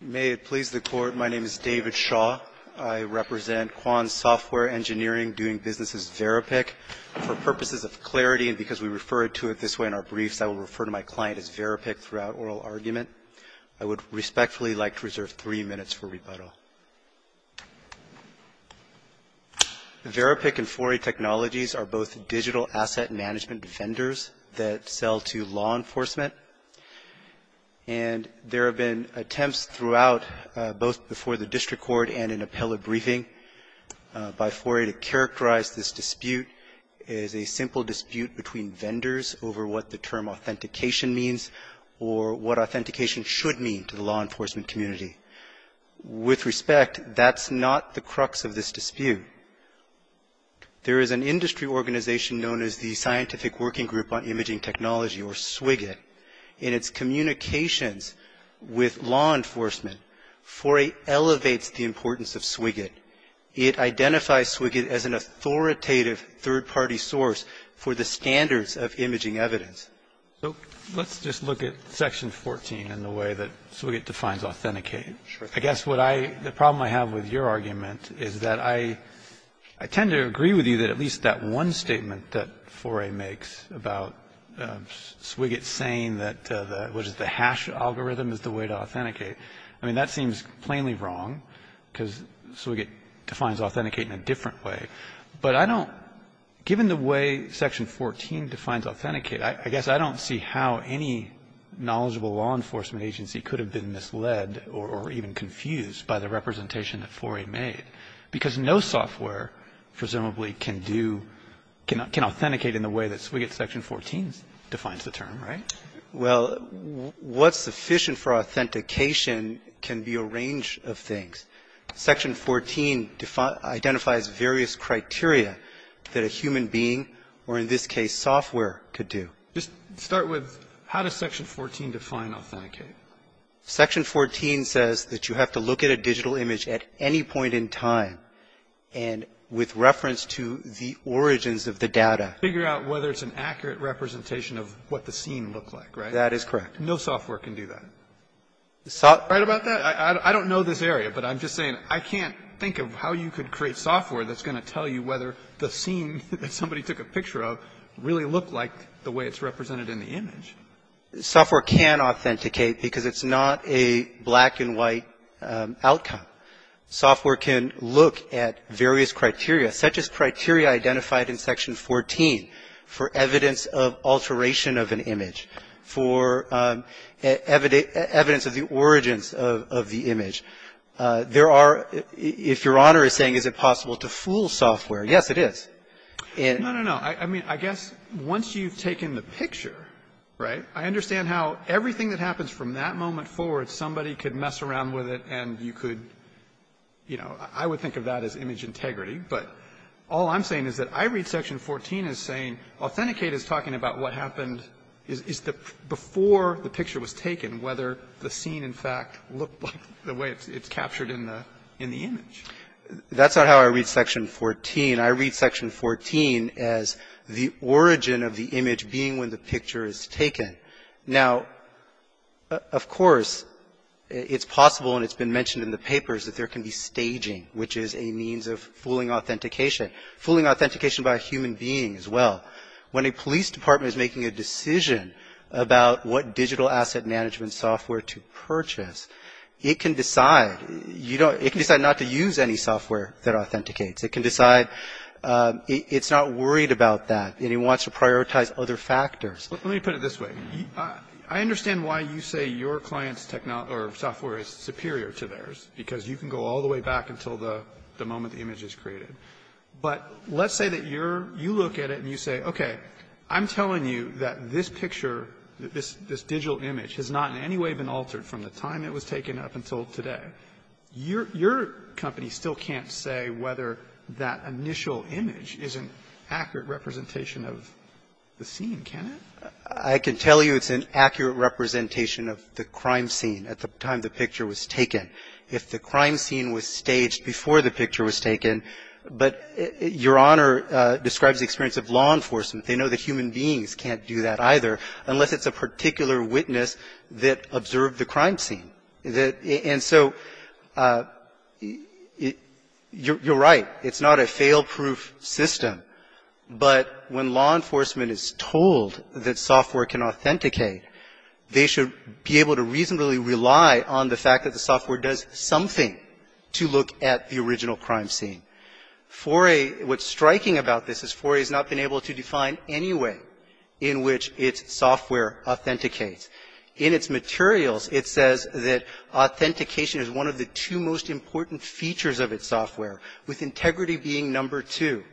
May it please the Court, my name is David Shaw. I represent Kwan Software Engineering doing business as VeriPIC. For purposes of clarity and because we refer to it this way in our briefs, I will refer to my client as VeriPIC throughout oral argument. I would respectfully like to reserve three minutes for rebuttal. VeriPIC and Foray Technologies are both digital asset management defenders that sell to law enforcement. And there have been attempts throughout, both before the district court and in appellate briefing, by Foray to characterize this dispute as a simple dispute between vendors over what the term authentication means or what authentication should mean to the law enforcement community. With respect, that's not the crux of this dispute. There is an industry organization known as the Scientific Working Group on Imaging Technology, or SWIGIT, which is a nonprofit organization. In its communications with law enforcement, Foray elevates the importance of SWIGIT. It identifies SWIGIT as an authoritative third-party source for the standards of imaging evidence. So let's just look at Section 14 in the way that SWIGIT defines authenticate. I guess what I, the problem I have with your argument is that I tend to agree with you that at least that one statement that Foray makes about SWIGIT saying that the, what is it, the hash algorithm is the way to authenticate, I mean, that seems plainly wrong because SWIGIT defines authenticate in a different way. But I don't, given the way Section 14 defines authenticate, I guess I don't see how any knowledgeable law enforcement agency could have been misled or even confused by the representation that Foray made. Because no software, presumably, can do, can authenticate in the way that SWIGIT Section 14 defines the term, right? Well, what's sufficient for authentication can be a range of things. Section 14 identifies various criteria that a human being, or in this case, software, could do. Just start with how does Section 14 define authenticate? Section 14 says that you have to look at a digital image at any point in time, and with reference to the origins of the data. Figure out whether it's an accurate representation of what the scene looked like, right? That is correct. No software can do that. Right about that? I mean, I don't know this area, but I'm just saying I can't think of how you could create software that's going to tell you whether the scene that somebody took a picture of really looked like the way it's represented in the image. Software can authenticate because it's not a black and white outcome. Software can look at various criteria, such as criteria identified in Section 14 for evidence of alteration of an image, for evidence of the origins of the image. There are, if Your Honor is saying is it possible to fool software, yes, it is. No, no, no. I mean, I guess once you've taken the picture, right, I understand how everything that happens from that moment forward, somebody could mess around with it and you could, you know, I would think of that as image integrity. But all I'm saying is that I read Section 14 as saying authenticate is talking about what happened before the picture was taken, whether the scene in fact looked like the way it's captured in the image. That's not how I read Section 14. I read Section 14 as the origin of the image being when the picture is taken. Now, of course, it's possible and it's been mentioned in the papers that there can be staging, which is a means of fooling authentication, fooling authentication by a human being as well. When a police department is making a decision about what digital asset management software to purchase, it can decide not to use any software that authenticates. It can decide it's not worried about that and it wants to prioritize other factors. Let me put it this way. I understand why you say your client's software is superior to theirs, because you can go all the way back until the moment the image is created. But let's say that you're you look at it and you say, okay, I'm telling you that this picture, this digital image, has not in any way been altered from the time it was taken up until today. Your company still can't say whether that initial image is an accurate representation of the scene, can it? I can tell you it's an accurate representation of the crime scene at the time the picture was taken. If the crime scene was staged before the picture was taken, but your Honor describes the experience of law enforcement, they know that human beings can't do that either unless it's a particular witness that observed the crime scene. And so you're right. It's not a fail-proof system. But when law enforcement is told that software can authenticate, they should be able to reasonably rely on the fact that the software does something to look at the original crime scene. Foray, what's striking about this is Foray has not been able to define any way in which its software authenticates. In its materials, it says that authentication is one of the two most important features of its software, with integrity being number two.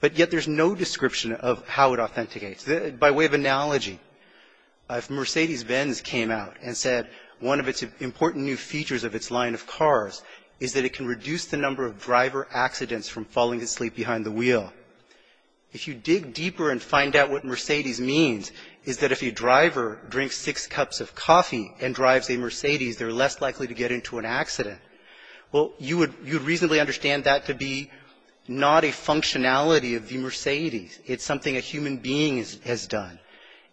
But yet there's no description of how it authenticates. By way of analogy, if Mercedes-Benz came out and said one of its important new features of its line of cars is that it can reduce the number of driver accidents from falling asleep behind the wheel, if you dig deeper and find out what Mercedes means is that if a driver drinks six cups of coffee and drives a Mercedes, they're less likely to get into an accident, well, you would reasonably understand that to be not a functionality of the Mercedes. It's something a human being has done.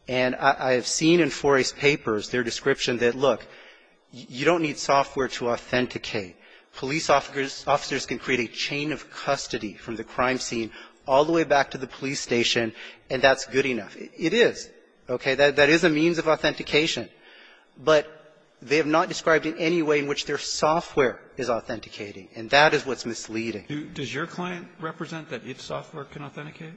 And I have seen in Foray's papers their description that, look, you don't need software to authenticate. Police officers can create a chain of custody from the crime scene all the way back to the police station, and that's good enough. It is, okay? That is a means of authentication. But they have not described in any way in which their software is authenticating. And that is what's misleading. Does your client represent that its software can authenticate?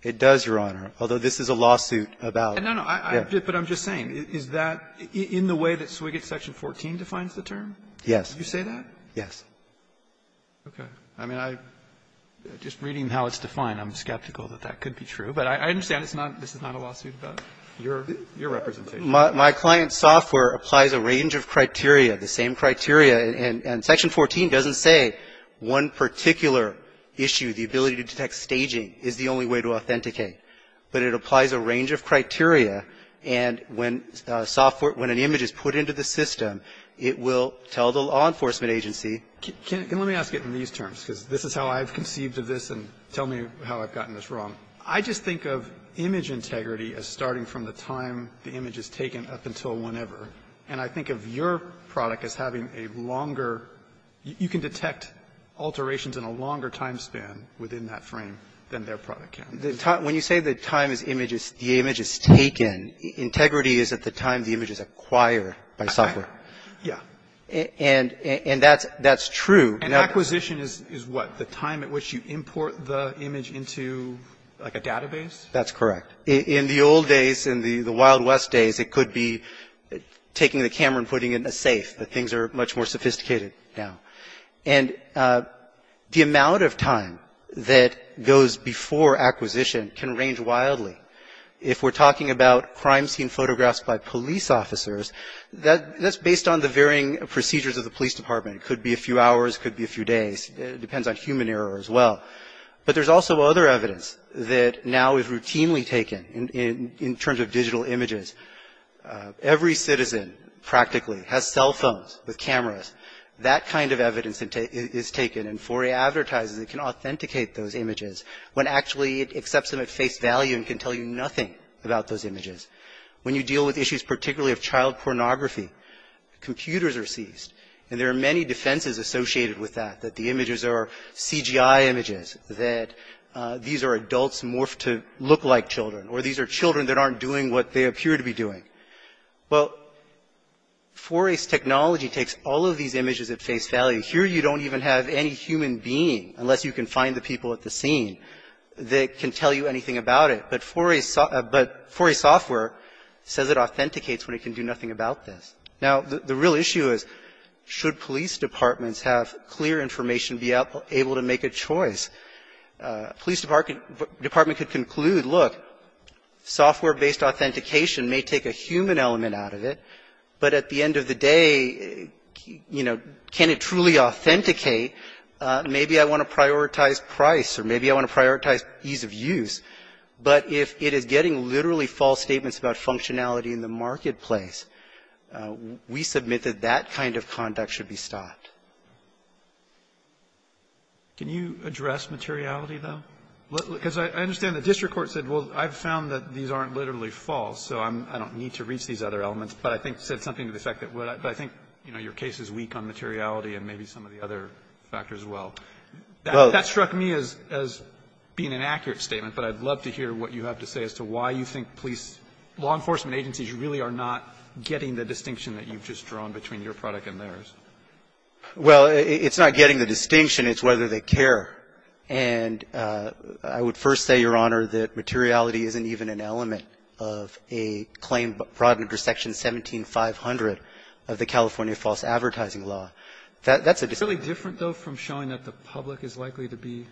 It does, Your Honor, although this is a lawsuit about it. No, no. But I'm just saying, is that in the way that Swiget's Section 14 defines the term? Yes. Did you say that? Yes. Okay. I mean, I'm just reading how it's defined. I'm skeptical that that could be true. But I understand this is not a lawsuit about your representation. My client's software applies a range of criteria, the same criteria. And Section 14 doesn't say one particular issue, the ability to detect staging, is the only way to authenticate. But it applies a range of criteria. And when an image is put into the system, it will tell the law enforcement agency. Let me ask it in these terms, because this is how I've conceived of this, and tell me how I've gotten this wrong. I just think of image integrity as starting from the time the image is taken up until whenever. And I think of your product as having a longer, you can detect alterations in a longer time span within that frame than their product can. When you say the time the image is taken, integrity is at the time the image is acquired by software. Yeah. And that's true. And acquisition is what? The time at which you import the image into, like, a database? That's correct. In the old days, in the Wild West days, it could be taking the camera and putting it in a safe, but things are much more sophisticated now. And the amount of time that goes before acquisition can range wildly. If we're talking about crime scene photographs by police officers, that's based on the varying procedures of the police department. It could be a few hours, it could be a few days, it depends on human error as well. But there's also other evidence that now is routinely taken in terms of digital images. Every citizen, practically, has cell phones with cameras. That kind of evidence is taken, and 4A advertises it can authenticate those images when actually it accepts them at face value and can tell you nothing about those images. When you deal with issues particularly of child pornography, computers are seized. And there are many defenses associated with that, that the images are CGI images, that these are adults morphed to look like children, or these are children that aren't doing what they appear to be doing. Well, 4A's technology takes all of these images at face value. Here you don't even have any human being, unless you can find the people at the scene, that can tell you anything about it. But 4A software says it authenticates when it can do nothing about this. Now, the real issue is, should police departments have clear information to be able to make a choice? Police department could conclude, look, software-based authentication may take a human element out of it, but at the end of the day, you know, can it truly authenticate? Maybe I want to prioritize price, or maybe I want to prioritize ease of use. But if it is getting literally false statements about functionality in the marketplace, we submit that that kind of conduct should be stopped. Can you address materiality, though? Because I understand the district court said, well, I've found that these aren't literally false, so I don't need to reach these other elements, but I think said something to the effect that would. But I think, you know, your case is weak on materiality and maybe some of the other factors as well. That struck me as being an accurate statement, but I'd love to hear what you have to say as to why you think police law enforcement agencies really are not getting the distinction that you've just drawn between your product and theirs. Well, it's not getting the distinction, it's whether they care. And I would first say, Your Honor, that materiality isn't even an element of a claim brought under Section 17500 of the California False Advertising Law. That's a distinction. Is it really different, though, from showing that the public is likely to be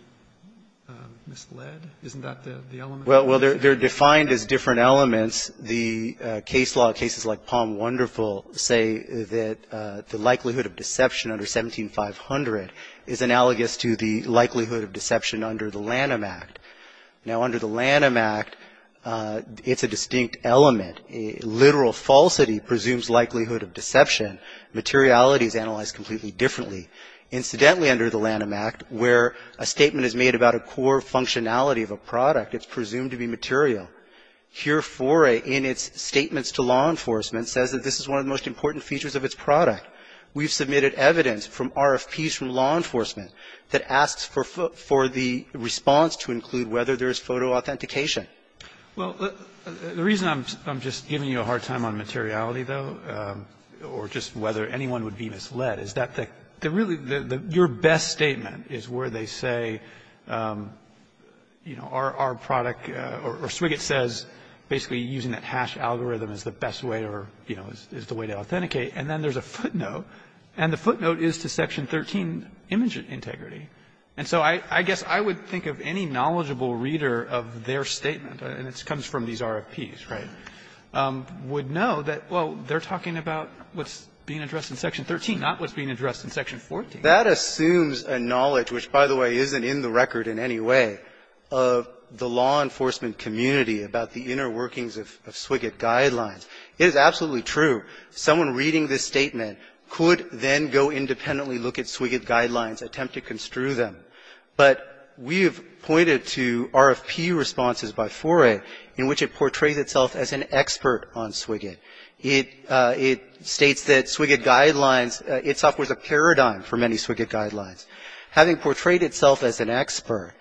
misled? Isn't that the element? Well, they're defined as different elements. The case law cases like Palm Wonderful say that the likelihood of deception under 17500 is analogous to the likelihood of deception under the Lanham Act. Now, under the Lanham Act, it's a distinct element. Literal falsity presumes likelihood of deception. Materiality is analyzed completely differently. Incidentally, under the Lanham Act, where a statement is made about a core functionality of a product, it's presumed to be material. Here, Foray, in its statements to law enforcement, says that this is one of the most important features of its product. We've submitted evidence from RFPs from law enforcement that asks for the response to include whether there is photo authentication. Well, the reason I'm just giving you a hard time on materiality, though, or just whether anyone would be misled, is that the really the your best statement is where they say, you know, our product or Swiget says basically using that hash algorithm is the best way or, you know, is the way to authenticate. And then there's a footnote, and the footnote is to Section 13, image integrity. And so I guess I would think of any knowledgeable reader of their statement, and it comes from these RFPs, right, would know that, well, they're talking about what's being addressed in Section 13, not what's being addressed in Section 14. That assumes a knowledge, which, by the way, isn't in the record in any way, of the law enforcement community about the inner workings of Swiget guidelines. It is absolutely true. Someone reading this statement could then go independently look at Swiget guidelines, attempt to construe them. But we have pointed to RFP responses by Foray in which it portrays itself as an expert on Swiget. It states that Swiget guidelines, it's up with a paradigm for many Swiget guidelines. Having portrayed itself as an expert,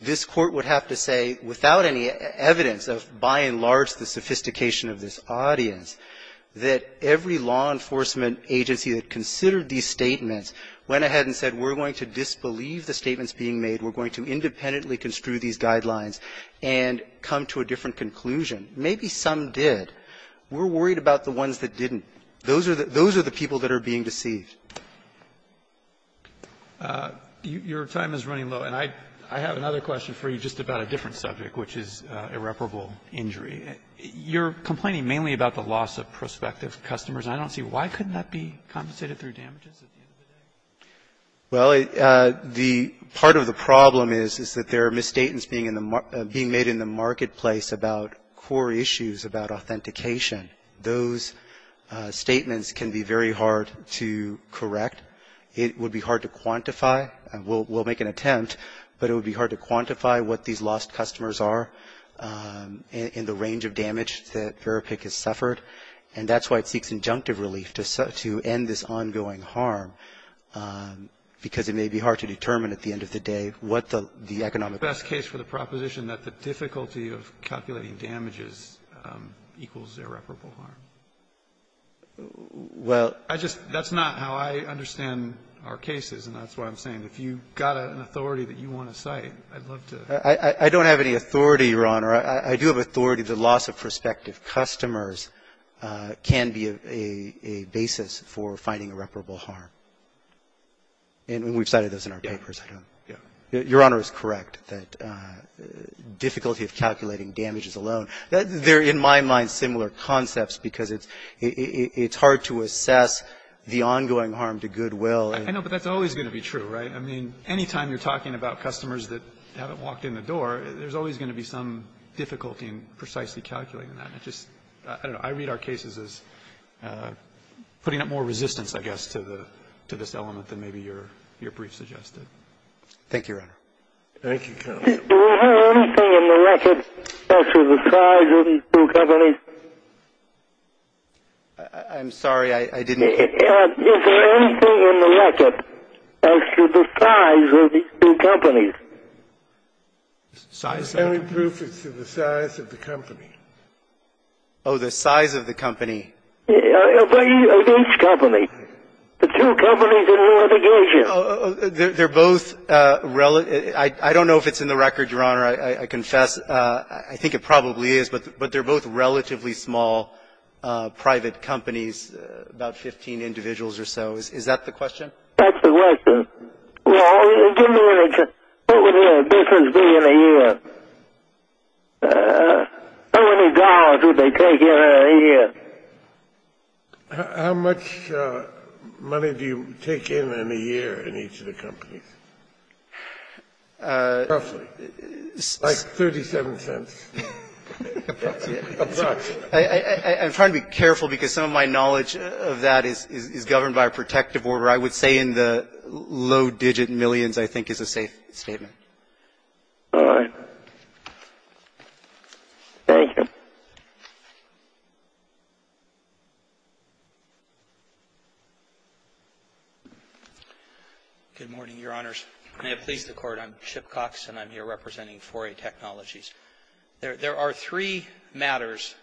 this Court would have to say, without any evidence of, by and large, the sophistication of this audience, that every law enforcement agency that considered these statements went ahead and said, we're going to disbelieve the statements being made, we're going to independently construe these guidelines, and come to a different conclusion. Maybe some did. We're worried about the ones that didn't. Those are the people that are being deceived. Roberts, your time is running low. And I have another question for you just about a different subject, which is irreparable injury. You're complaining mainly about the loss of prospective customers. And I don't see why couldn't that be compensated through damages at the end of the day? Well, part of the problem is that there are misstatements being made in the marketplace about core issues about authentication. Those statements can be very hard to correct. It would be hard to quantify. We'll make an attempt, but it would be hard to quantify what these lost customers And that's why it seeks injunctive relief, to end this ongoing harm, because it may be hard to determine at the end of the day what the economic risk is. Is it the best case for the proposition that the difficulty of calculating damages equals irreparable harm? Well, I just — that's not how I understand our cases, and that's what I'm saying. If you've got an authority that you want to cite, I'd love to — I don't have any authority, Your Honor. I do have authority that loss of prospective customers can be a basis for finding irreparable harm. And we've cited those in our papers. Your Honor is correct that difficulty of calculating damages alone — they're, in my mind, similar concepts because it's hard to assess the ongoing harm to goodwill. I know, but that's always going to be true, right? I mean, any time you're talking about customers that haven't walked in the door, there's always going to be some difficulty in precisely calculating that. And it just — I don't know. I read our cases as putting up more resistance, I guess, to the — to this element than maybe your brief suggested. Thank you, Your Honor. Thank you, counsel. Do we have anything in the record as to the size of these two companies? I'm sorry. I didn't hear you. Is there anything in the record as to the size of these two companies? Size? The only proof is the size of the company. Oh, the size of the company. Of each company. The two companies in litigation. They're both — I don't know if it's in the record, Your Honor. I confess. I think it probably is. But they're both relatively small private companies, about 15 individuals or so. Is that the question? That's the question. Well, give me an example. How many individuals do you need in a year? How many dollars would they take in a year? How much money do you take in a year in each of the companies? Roughly. Like 37 cents. Approximately. Approximately. I'm trying to be careful because some of my knowledge of that is governed by a protective order. I would say in the low-digit millions, I think, is a safe statement. All right. Thank you. Good morning, Your Honors. May it please the Court. I'm Chip Cox, and I'm here representing 4A Technologies. There are three matters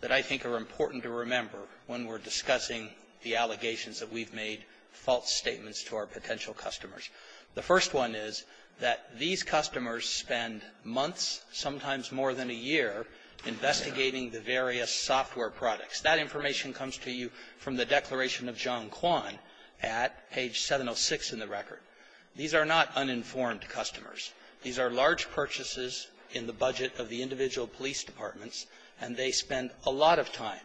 that I think are important to remember when we're discussing the allegations that we've made false statements to our potential customers. The first one is that these customers spend months, sometimes more than a year, investigating the various software products. That information comes to you from the Declaration of John Kwan at page 706 in the record. These are not uninformed customers. These are large purchases in the budget of the individual police departments, and they spend a lot of time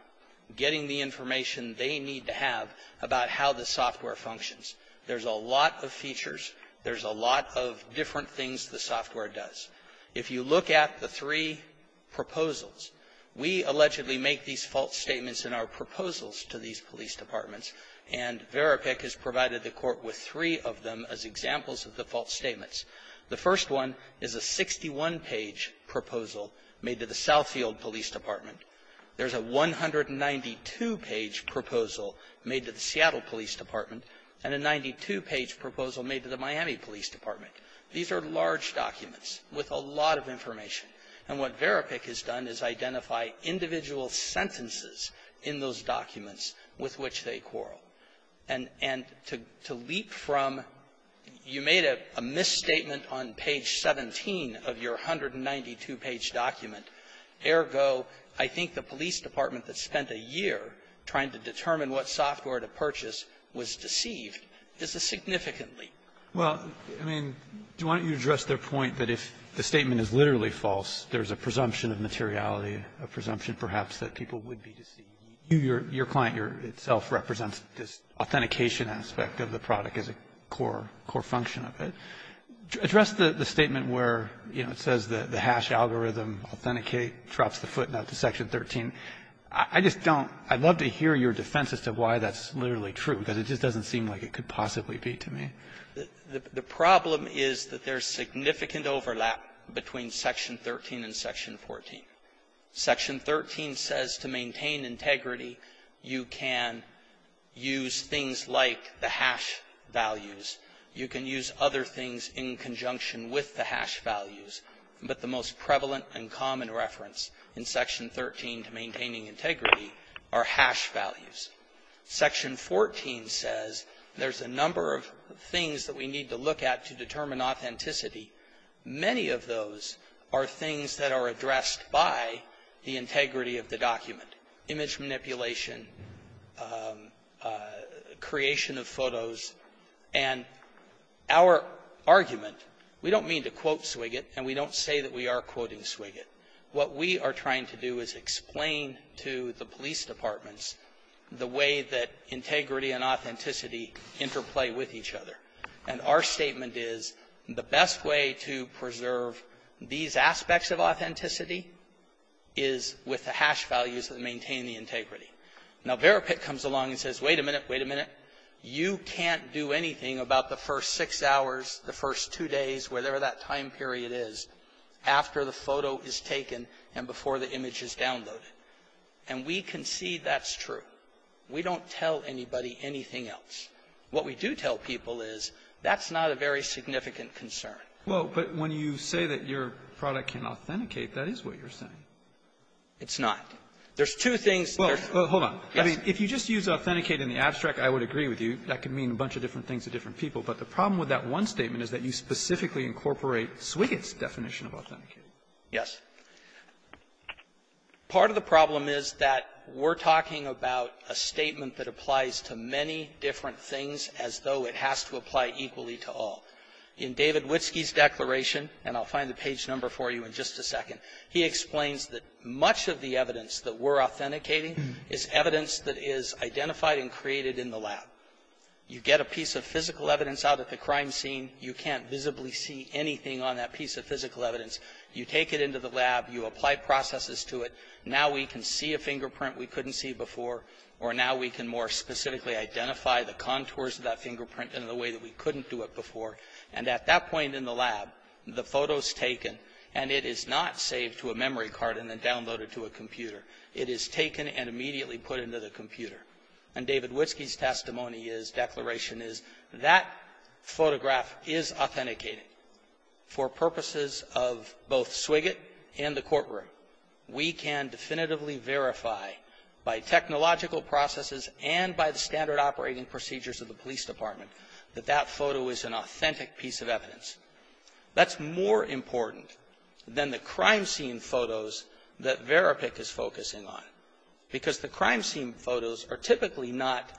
getting the information they need to have about how the software functions. There's a lot of features. There's a lot of different things the software does. If you look at the three proposals, we allegedly make these false statements in our proposals to these police departments, and Verapik has provided the Court with three of them as examples of the false statements. The first one is a 61-page proposal made to the Southfield Police Department. There's a 192-page proposal made to the Seattle Police Department, and a 92-page proposal made to the Miami Police Department. These are large documents with a lot of information. And what Verapik has done is identify individual sentences in those documents with which they quarrel. And to leap from you made a misstatement on page 17 of your 192-page document. Ergo, I think the police department that spent a year trying to determine what software to purchase was deceived is a significant leap. Well, I mean, do you want to address their point that if the statement is literally false, there's a presumption of materiality, a presumption, perhaps, that people would be deceived? Your client itself represents this authentication aspect of the product as a core function of it. Address the statement where, you know, it says that the hash algorithm, Authenticate, drops the footnote to Section 13. I just don't. I'd love to hear your defense as to why that's literally true, because it just doesn't seem like it could possibly be to me. The problem is that there's significant overlap between Section 13 and Section 14. Section 13 says to maintain integrity, you can use things like the hash values. You can use other things in conjunction with the hash values. But the most prevalent and common reference in Section 13 to maintaining integrity are hash values. Section 14 says there's a number of things that we need to look at to determine authenticity. Many of those are things that are addressed by the integrity of the document, image manipulation, creation of photos. And our argument, we don't mean to quote Swiget, and we don't say that we are quoting Swiget. What we are trying to do is explain to the police departments the way that integrity and authenticity interplay with each other. And our statement is, the best way to preserve these aspects of authenticity is with the hash values that maintain the integrity. Now, Verapik comes along and says, wait a minute, wait a minute, you can't do anything about the first six hours, the first two days, whatever that time period is, after the photo is taken and before the image is downloaded. And we concede that's true. We don't tell anybody anything else. What we do tell people is that's not a very significant concern. Alito, but when you say that your product can authenticate, that is what you are saying. It's not. There's two things. Well, hold on. Yes. If you just use authenticate in the abstract, I would agree with you. That could mean a bunch of different things to different people. But the problem with that one statement is that you specifically incorporate Swiget's definition of authenticate. Yes. Part of the problem is that we're talking about a statement that applies to many different things as though it has to apply equally to all. In David Witsky's declaration, and I'll find the page number for you in just a second, he explains that much of the evidence that we're authenticating is evidence that is identified and created in the lab. You get a piece of physical evidence out at the crime scene, you can't visibly see anything on that piece of physical evidence. You take it into the lab, you apply processes to it. Now we can see a fingerprint we couldn't see before, or now we can more specifically identify the contours of that fingerprint in a way that we couldn't do it before. And at that point in the lab, the photo's taken, and it is not saved to a memory card and then downloaded to a computer. It is taken and immediately put into the computer. And David Witsky's testimony is, declaration is, that photograph is authenticated. For purposes of both Swiget and the courtroom, we can definitively verify by technological processes and by the standard operating procedures of the police department that that photo is an authentic piece of evidence. That's more important than the crime scene photos that Verapik is focusing on, because the crime scene photos are typically not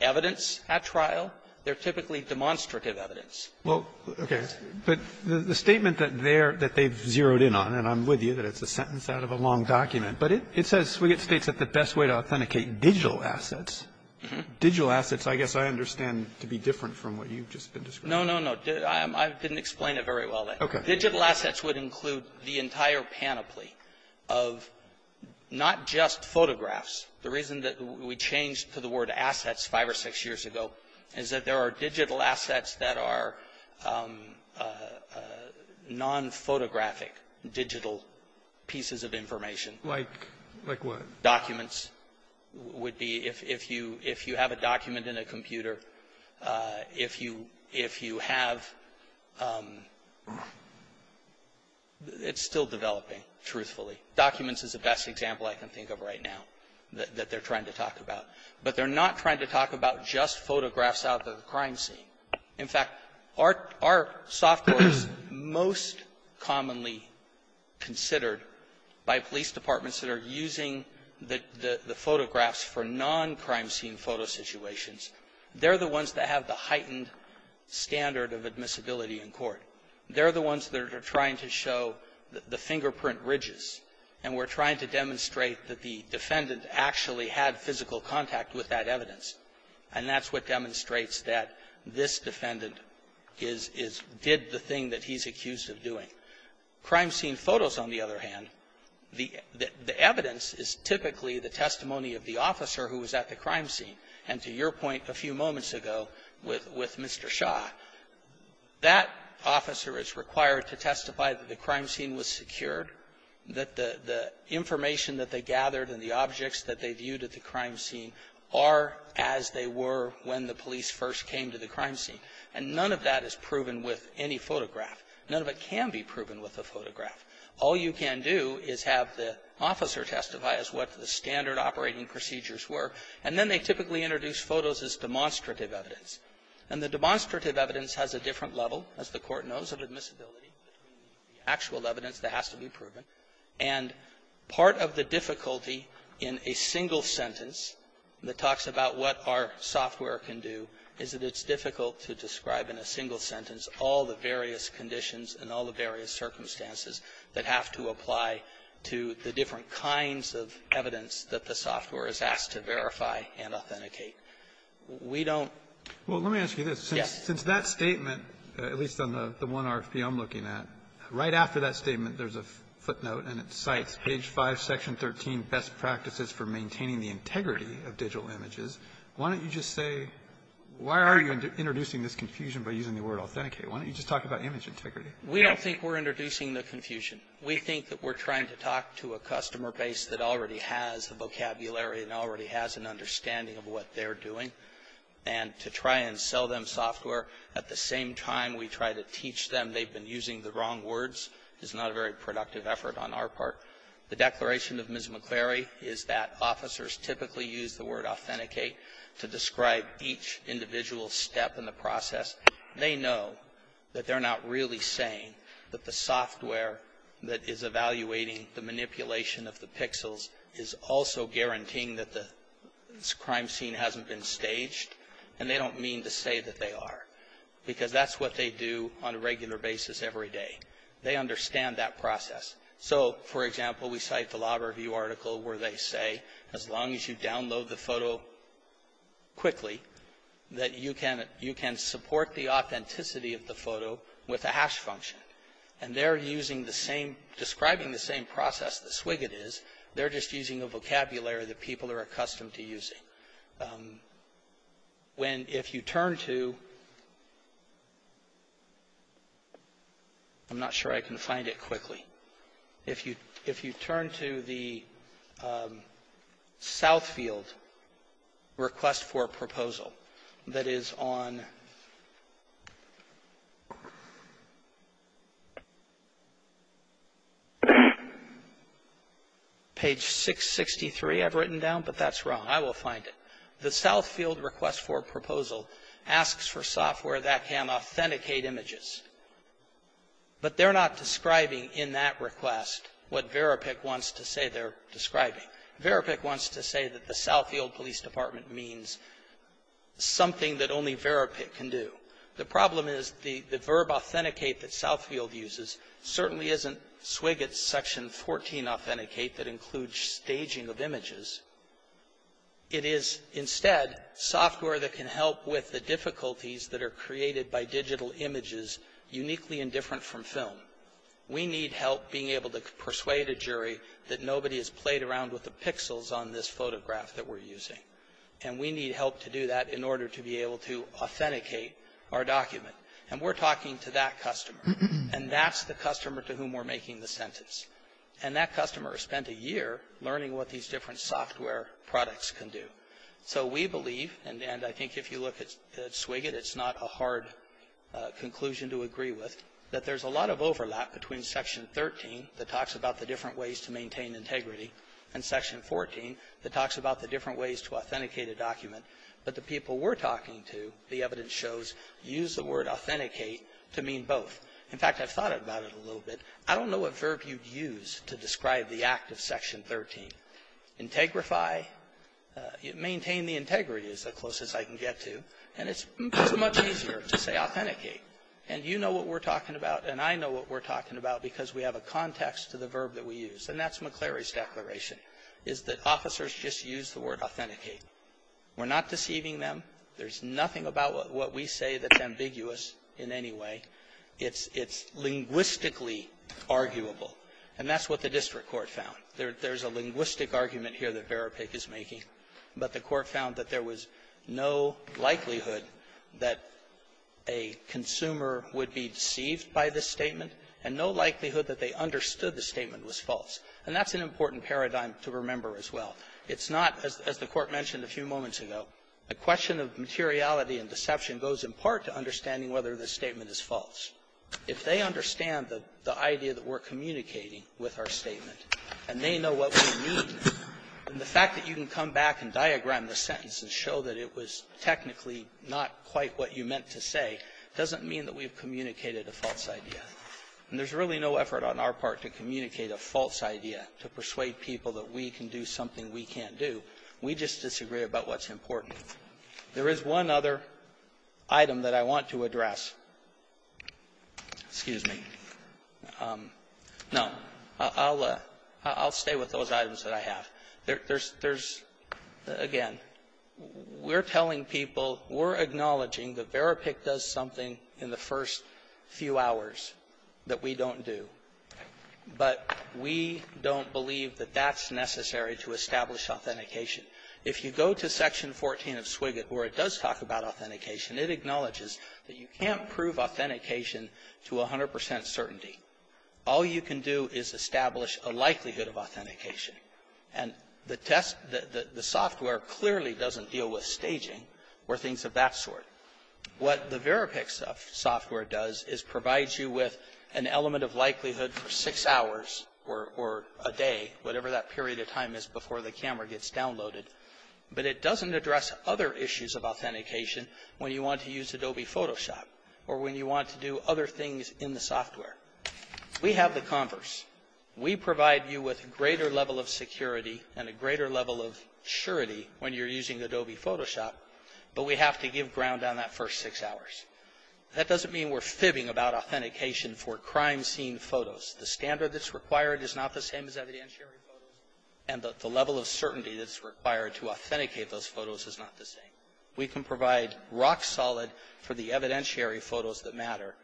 evidence at trial. They're typically demonstrative evidence. Roberts. Well, okay. But the statement that they're – that they've zeroed in on, and I'm with you that it's a sentence out of a long document, but it says Swiget states that the best way to authenticate digital assets, digital assets, I guess, I understand to be different from what you've just been describing. No, no, no. I didn't explain it very well. Okay. Digital assets would include the entire panoply of not just photographs. The reason that we changed to the word assets five or six years ago is that there are digital assets that are nonphotographic digital pieces of information. Like what? Documents would be if you – if you have a document in a computer, if you – if you have – it's still developing, truthfully. Documents is the best example I can think of right now that they're trying to talk about. But they're not trying to talk about just photographs out of the crime scene. In fact, our – our software is most commonly considered by police departments that are using the – the photographs for non-crime scene photo situations. They're the ones that have the heightened standard of admissibility in court. They're the ones that are trying to show the fingerprint ridges. And we're trying to demonstrate that the defendant actually had physical contact with that evidence. And that's what demonstrates that this defendant is – is – did the thing that he's accused of doing. Crime scene photos, on the other hand, the – the evidence is typically the testimony of the officer who was at the crime scene. And to your point a few moments ago with – with Mr. Shaw, that officer is required to testify that the crime scene was secured, that the – the information that they gathered and the objects that they viewed at the crime scene are as they were when the police first came to the crime scene. And none of that is proven with any photograph. None of it can be proven with a photograph. All you can do is have the officer testify as what the standard operating procedures were. And then they typically introduce photos as demonstrative evidence. And the demonstrative evidence has a different level, as the Court knows, of admissibility between the actual evidence that has to be proven. And part of the difficulty in a single sentence that talks about what our software can do is that it's difficult to describe in a single sentence all the various conditions and all the various circumstances that have to apply to the different kinds of evidence that the software is asked to verify and authenticate. We don't – Roberts. Well, let me ask you this. Yes. Since that statement, at least on the one RFP I'm looking at, right after that statement, there's a footnote, and it cites page 5, section 13, best practices for maintaining the integrity of digital images. Why don't you just say – why are you introducing this confusion by using the word authenticate? Why don't you just talk about image integrity? We don't think we're introducing the confusion. We think that we're trying to talk to a customer base that already has the vocabulary and already has an understanding of what they're doing. And to try and sell them software at the same time we try to teach them they've been using the wrong words is not a very productive effort on our part. The declaration of Ms. McClary is that officers typically use the word authenticate to describe each individual step in the process. They know that they're not really saying that the software that is evaluating the manipulation of the pixels is also guaranteeing that the crime scene hasn't been staged, and they don't mean to say that they are. Because that's what they do on a regular basis every day. They understand that process. So, for example, we cite the Law Review article where they say as long as you support the authenticity of the photo with a hash function. And they're using the same, describing the same process that Swiget is, they're just using a vocabulary that people are accustomed to using. When if you turn to, I'm not sure I can find it quickly. If you turn to the Southfield request for proposal, page 663 I've written down. But that's wrong. I will find it. The Southfield request for proposal asks for software that can authenticate images. But they're not describing in that request what Verapik wants to say they're describing. Verapik wants to say that the Southfield Police Department means something that only Verapik can do. The problem is the verb authenticate that Southfield uses certainly isn't Swiget's section 14 authenticate that includes staging of images. It is instead software that can help with the difficulties that are created by digital images uniquely and different from film. We need help being able to persuade a jury that nobody has played around with the pixels on this photograph that we're using. And we need help to do that in order to be able to authenticate our document. And we're talking to that customer, and that's the customer to whom we're making the sentence. And that customer spent a year learning what these different software products can do. So we believe, and I think if you look at Swiget, it's not a hard conclusion to agree with, that there's a lot of overlap between section 13 that talks about the different ways to maintain integrity, and authenticate a document. But the people we're talking to, the evidence shows, use the word authenticate to mean both. In fact, I've thought about it a little bit. I don't know what verb you'd use to describe the act of section 13. Integrify, maintain the integrity is the closest I can get to. And it's much easier to say authenticate. And you know what we're talking about, and I know what we're talking about because we have a context to the verb that we use. And that's McCleary's declaration, is that officers just use the word authenticate. We're not deceiving them. There's nothing about what we say that's ambiguous in any way. It's linguistically arguable. And that's what the district court found. There's a linguistic argument here that Verapik is making. But the court found that there was no likelihood that a consumer would be deceived by this statement, and no likelihood that they understood the statement was false. And that's an important paradigm to remember as well. It's not, as the Court mentioned a few moments ago, a question of materiality and deception goes in part to understanding whether this statement is false. If they understand the idea that we're communicating with our statement, and they know what we mean, then the fact that you can come back and diagram the sentence and show that it was technically not quite what you meant to say doesn't mean that we've communicated a false idea. And there's really no effort on our part to communicate a false idea, to persuade people that we can do something we can't do. We just disagree about what's important. There is one other item that I want to address. Excuse me. No. I'll stay with those items that I have. There's, again, we're telling people, we're acknowledging that Verapik does something in the first few hours that we don't do. But we don't believe that that's necessary to establish authentication. If you go to Section 14 of Swiget, where it does talk about authentication, it acknowledges that you can't prove authentication to 100 percent certainty. All you can do is establish a likelihood of authentication. And the test, the software clearly doesn't deal with staging or things of that sort. What the Verapik software does is provides you with an element of likelihood for six hours or a day, whatever that period of time is before the camera gets downloaded. But it doesn't address other issues of authentication when you want to use Adobe Photoshop or when you want to do other things in the software. We have the converse. We provide you with greater level of security and a greater level of surety when you're using Adobe Photoshop. But we have to give ground on that first six hours. That doesn't mean we're fibbing about authentication for crime scene photos. The standard that's required is not the same as evidentiary photos. And the level of certainty that's required to authenticate those photos is not the same. We can provide rock solid for the evidentiary photos that matter.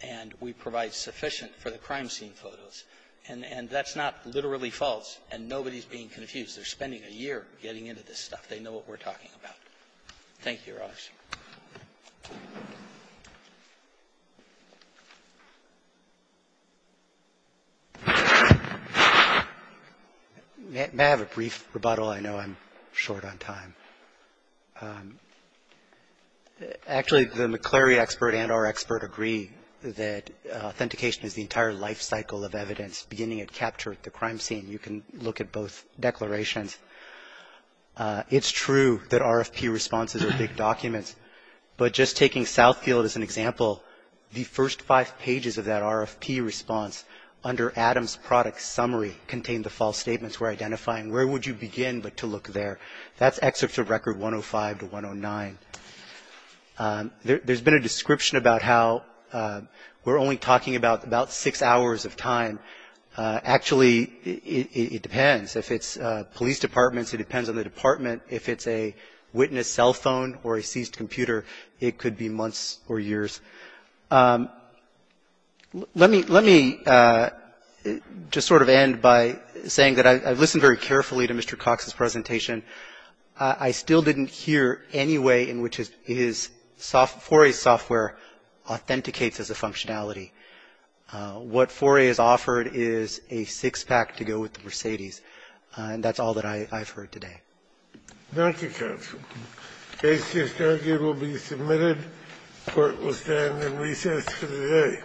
And we provide sufficient for the crime scene photos. And that's not literally false. And nobody's being confused. They're spending a year getting into this stuff. They know what we're talking about. Thank you, Raj. May I have a brief rebuttal? I know I'm short on time. Actually, the McClary expert and our expert agree that authentication is the entire life cycle of evidence beginning at capture at the crime scene. You can look at both declarations. It's true that RFP responses are big documents. But just taking Southfield as an example, the first five pages of that RFP response under Adam's product summary contained the false statements we're identifying. Where would you begin but to look there? That's excerpts of record 105 to 109. There's been a description about how we're only talking about six hours of time. Actually, it depends. If it's police departments, it depends on the department. If it's a witness cell phone or a seized computer, it could be months or years. Let me just sort of end by saying that I've listened very carefully to Mr. Cox's presentation. I still didn't hear any way in which his 4A software authenticates as a functionality. What 4A has offered is a six-pack to go with the Mercedes. And that's all that I've heard today. Thank you, counsel. Case 6-90 will be submitted. Court will stand in recess for the day.